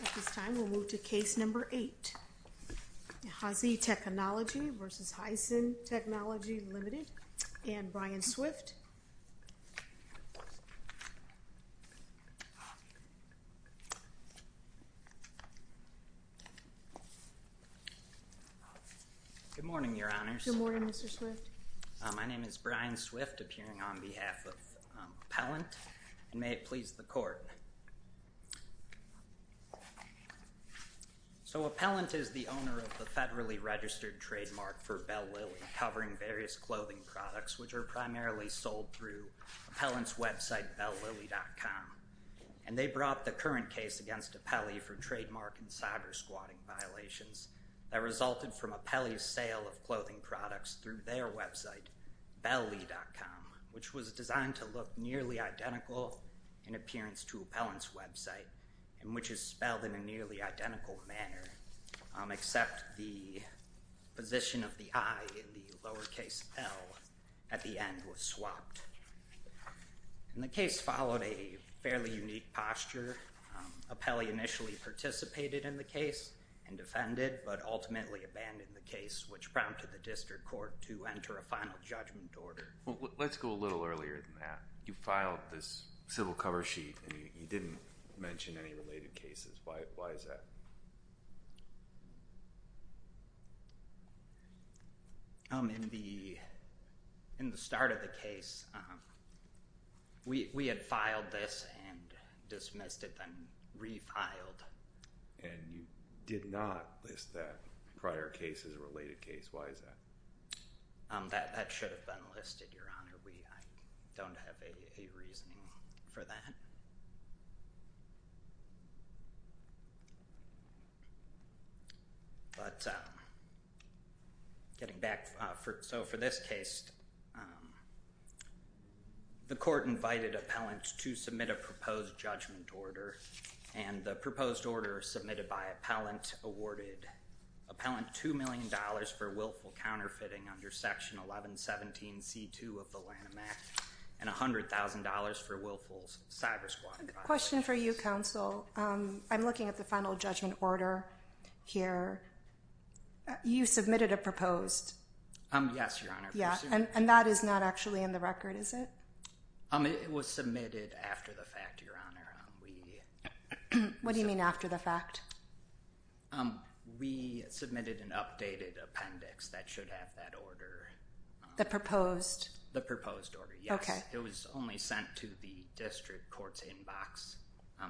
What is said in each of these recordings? At this time, we'll move to case number eight. Huajie Technology v. Heisen Technology Ltd. And Brian Swift. Good morning, your honors. Good morning, Mr. Swift. My name is Brian Swift, appearing on behalf of Appellant. And may it please the court. So Appellant is the owner of the federally registered trademark for Bell Lily, covering various clothing products, which are primarily sold through Appellant's website bellily.com. And they brought the current case against Appellee for trademark and cyber-squatting violations that resulted from Appellee's sale of clothing products through their website bellily.com, which was designed to look nearly identical in appearance to Appellant's website, and which is spelled in a nearly identical manner, except the position of the i in the lowercase l at the end was swapped. And the case followed a fairly unique posture. Appellee initially participated in the case and defended, but ultimately abandoned the case, which prompted the district court to enter a final judgment order. Let's go a little earlier than that. You filed this civil cover sheet, and you didn't mention any related cases. Why is that? In the start of the case, we had filed this and dismissed it, then refiled. And you did not list that prior case as a related case. Why is that? That should have been listed, Your Honor. I don't have a reasoning for that. So for this case, the court invited Appellant to submit a proposed judgment order. And the proposed order submitted by Appellant awarded Appellant $2 million for willful counterfeiting under Section 1117C2 of the Lanham Act, and $100,000 for willful cyber-squatting. Question for you, Counsel. I'm looking at the final judgment order here. You submitted a proposed? Yes, Your Honor. And that is not actually in the record, is it? It was submitted after the fact, Your Honor. What do you mean after the fact? We submitted an updated appendix that should have that order. The proposed? The proposed order, yes. It was only sent to the district court's inbox.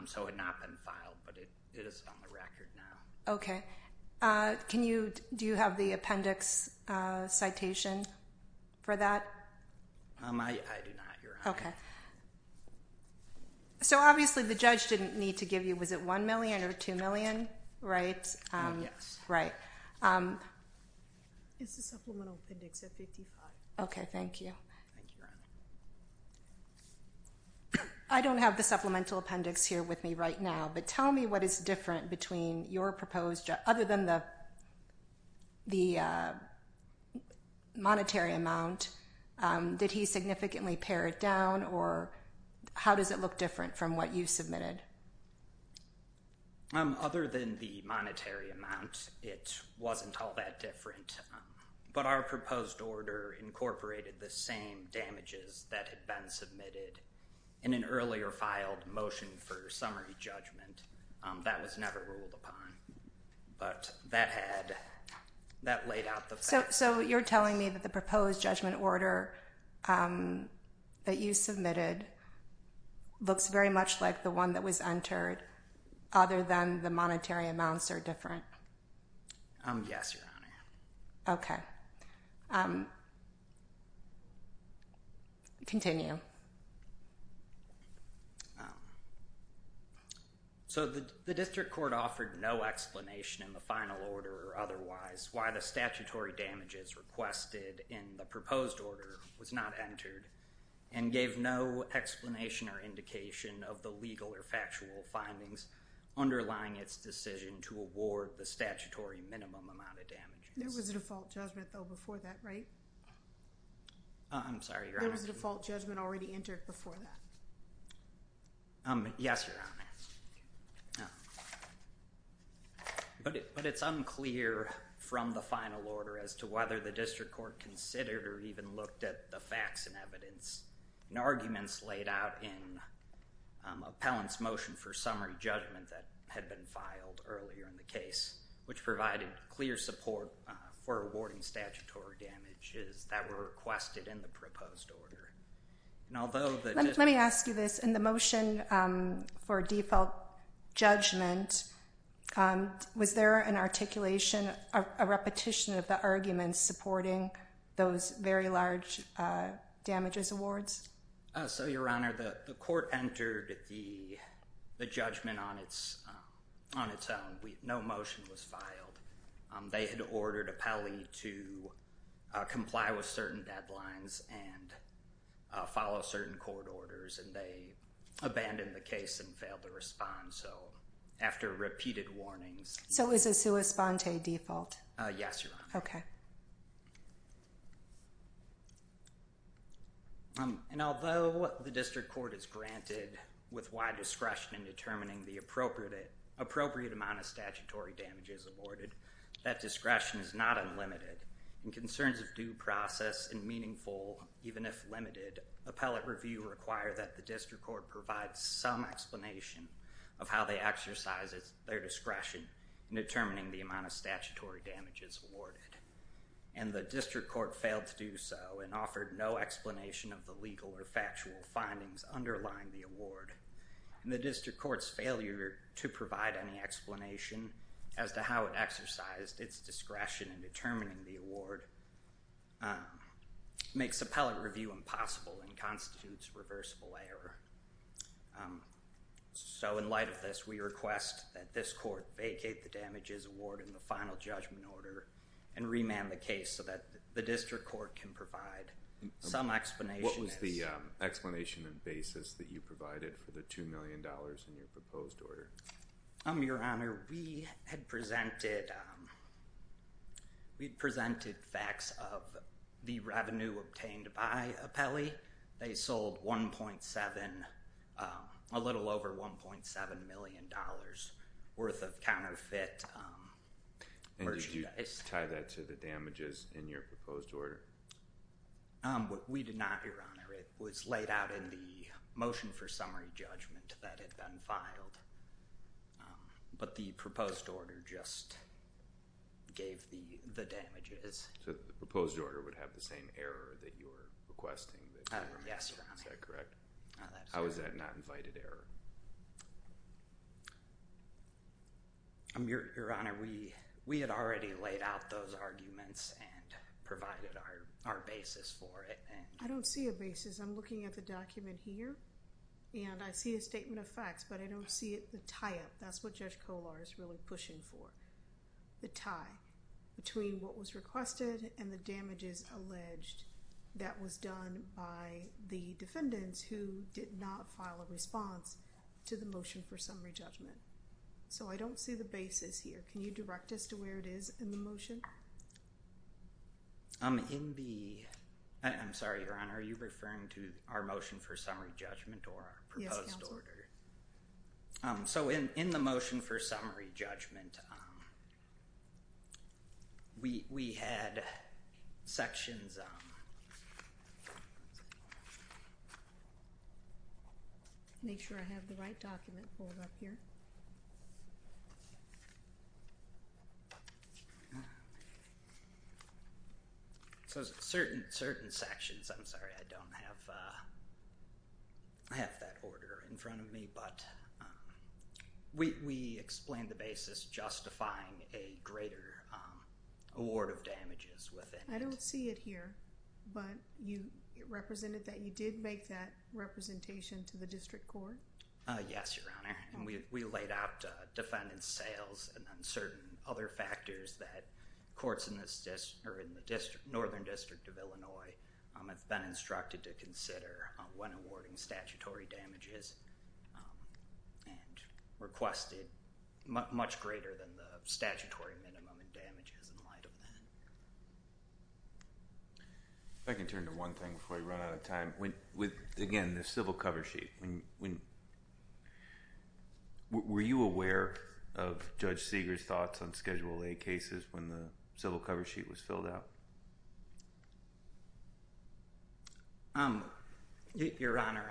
So it had not been filed, but it is on the record now. OK. Do you have the appendix citation for that? I do not, Your Honor. OK. So obviously, the judge didn't need to give you, was it $1 million or $2 million, right? Yes. Right. It's the supplemental appendix at 55. OK, thank you. Thank you, Your Honor. I don't have the supplemental appendix here with me right now, but tell me what is different between your proposed other than the monetary amount. Did he significantly pare it down, or how does it look different from what you submitted? Other than the monetary amount, it wasn't all that different. But our proposed order incorporated the same damages that had been submitted in an earlier filed motion for summary judgment. That was never ruled upon. But that had, that laid out the facts. So you're telling me that the proposed judgment order that you submitted looks very much like the one that we submitted? It was entered other than the monetary amounts are different? Yes, Your Honor. OK. Continue. So the district court offered no explanation in the final order or otherwise why the statutory damages requested in the proposed order was not entered and gave no explanation or indication of the legal or factual findings underlying its decision to award the statutory minimum amount of damages. There was a default judgment, though, before that, right? I'm sorry, Your Honor. There was a default judgment already entered before that. Yes, Your Honor. But it's unclear from the final order as to whether the district court considered or even looked at the facts and evidence and arguments laid out in appellant's motion for summary judgment that had been filed earlier in the case, which provided clear support for awarding statutory damages that were requested in the proposed order. And although the district court Let me ask you this. In the motion for default judgment, was there an articulation, a repetition of the arguments supporting those very large damages awards? So, Your Honor, the court entered the judgment on its own. No motion was filed. They had ordered appellee to comply with certain deadlines and follow certain court orders. And they abandoned the case and failed to respond. So after repeated warnings. So is a sua sponte default? Yes, Your Honor. OK. And although the district court is granted with wide discretion in determining the appropriate amount of statutory damages awarded, that discretion is not unlimited. And concerns of due process and meaningful, even if limited, appellate review require that the district court provide some explanation of how they exercise their discretion in determining the amount of statutory damages awarded. And the district court failed to do so and offered no explanation of the legal or factual findings underlying the award. And the district court's failure to provide any explanation as to how it exercised its discretion in determining the award makes appellate review impossible and constitutes reversible error. So in light of this, we request that this court vacate the damages award in the final judgment order and remand the case so that the district court can provide some explanation. What was the explanation and basis that you provided for the $2 million in your proposed order? Your Honor, we had presented facts of the revenue obtained by appellee. They sold a little over $1.7 million worth of counterfeit merchandise. And did you tie that to the damages in your proposed order? We did not, Your Honor. It was laid out in the motion for summary judgment that had been filed. But the proposed order just gave the damages. So the proposed order would have the same error that you were requesting. Yes, Your Honor. Is that correct? How is that not invited error? Your Honor, we had already laid out those arguments and provided our basis for it. I don't see a basis. I'm looking at the document here. And I see a statement of facts. But I don't see the tie-up. That's what Judge Kollar is really pushing for. The tie between what was requested and the damages alleged, that was done by the defendants who did not file a response to the motion for summary judgment. So I don't see the basis here. Can you direct us to where it is in the motion? I'm sorry, Your Honor. Are you referring to our motion for summary judgment or our proposed order? So in the motion for summary judgment, we had sections. Make sure I have the right document pulled up here. So certain sections, I'm sorry, I don't have that order in front of me. But we explained the basis justifying a greater award of damages within it. I don't see it here. But you represented that you did make that representation to the district court? Yes, Your Honor. And we laid out defendant sales and then certain other factors that courts in the Northern District of Illinois have been instructed to consider when awarding statutory damages and requested much greater than the statutory minimum in damages in light of that. If I can turn to one thing before I run out of time. Again, the civil cover sheet. Were you aware of Judge Segar's thoughts on Schedule A cases when the civil cover sheet was filled out? Your Honor,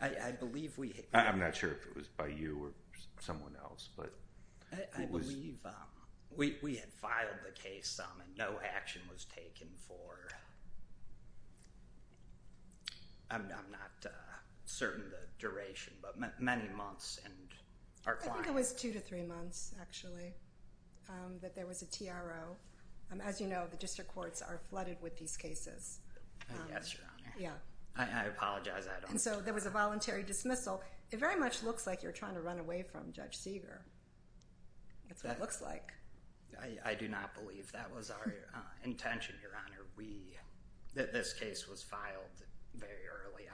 I'm not sure if it was by you or someone else. I believe we had filed the case and no action was taken for, I'm not certain of the duration, but many months and our client. I think it was two to three months, actually. That there was a TRO. As you know, the district courts are flooded with these cases. Yes, Your Honor. I apologize. And so there was a voluntary dismissal. It very much looks like you're trying to run away from Judge Segar. That's what it looks like. I do not believe that was our intention, Your Honor. This case was filed very early.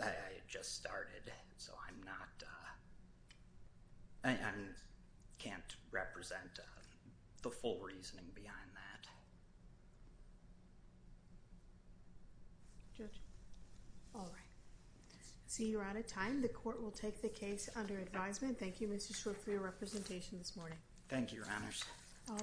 I had just started, so I'm not, I don't have the full reasoning behind that. Judge? All right. See you're out of time. The court will take the case under advisement. Thank you, Mr. Schwartz, for your representation this morning. Thank you, Your Honors.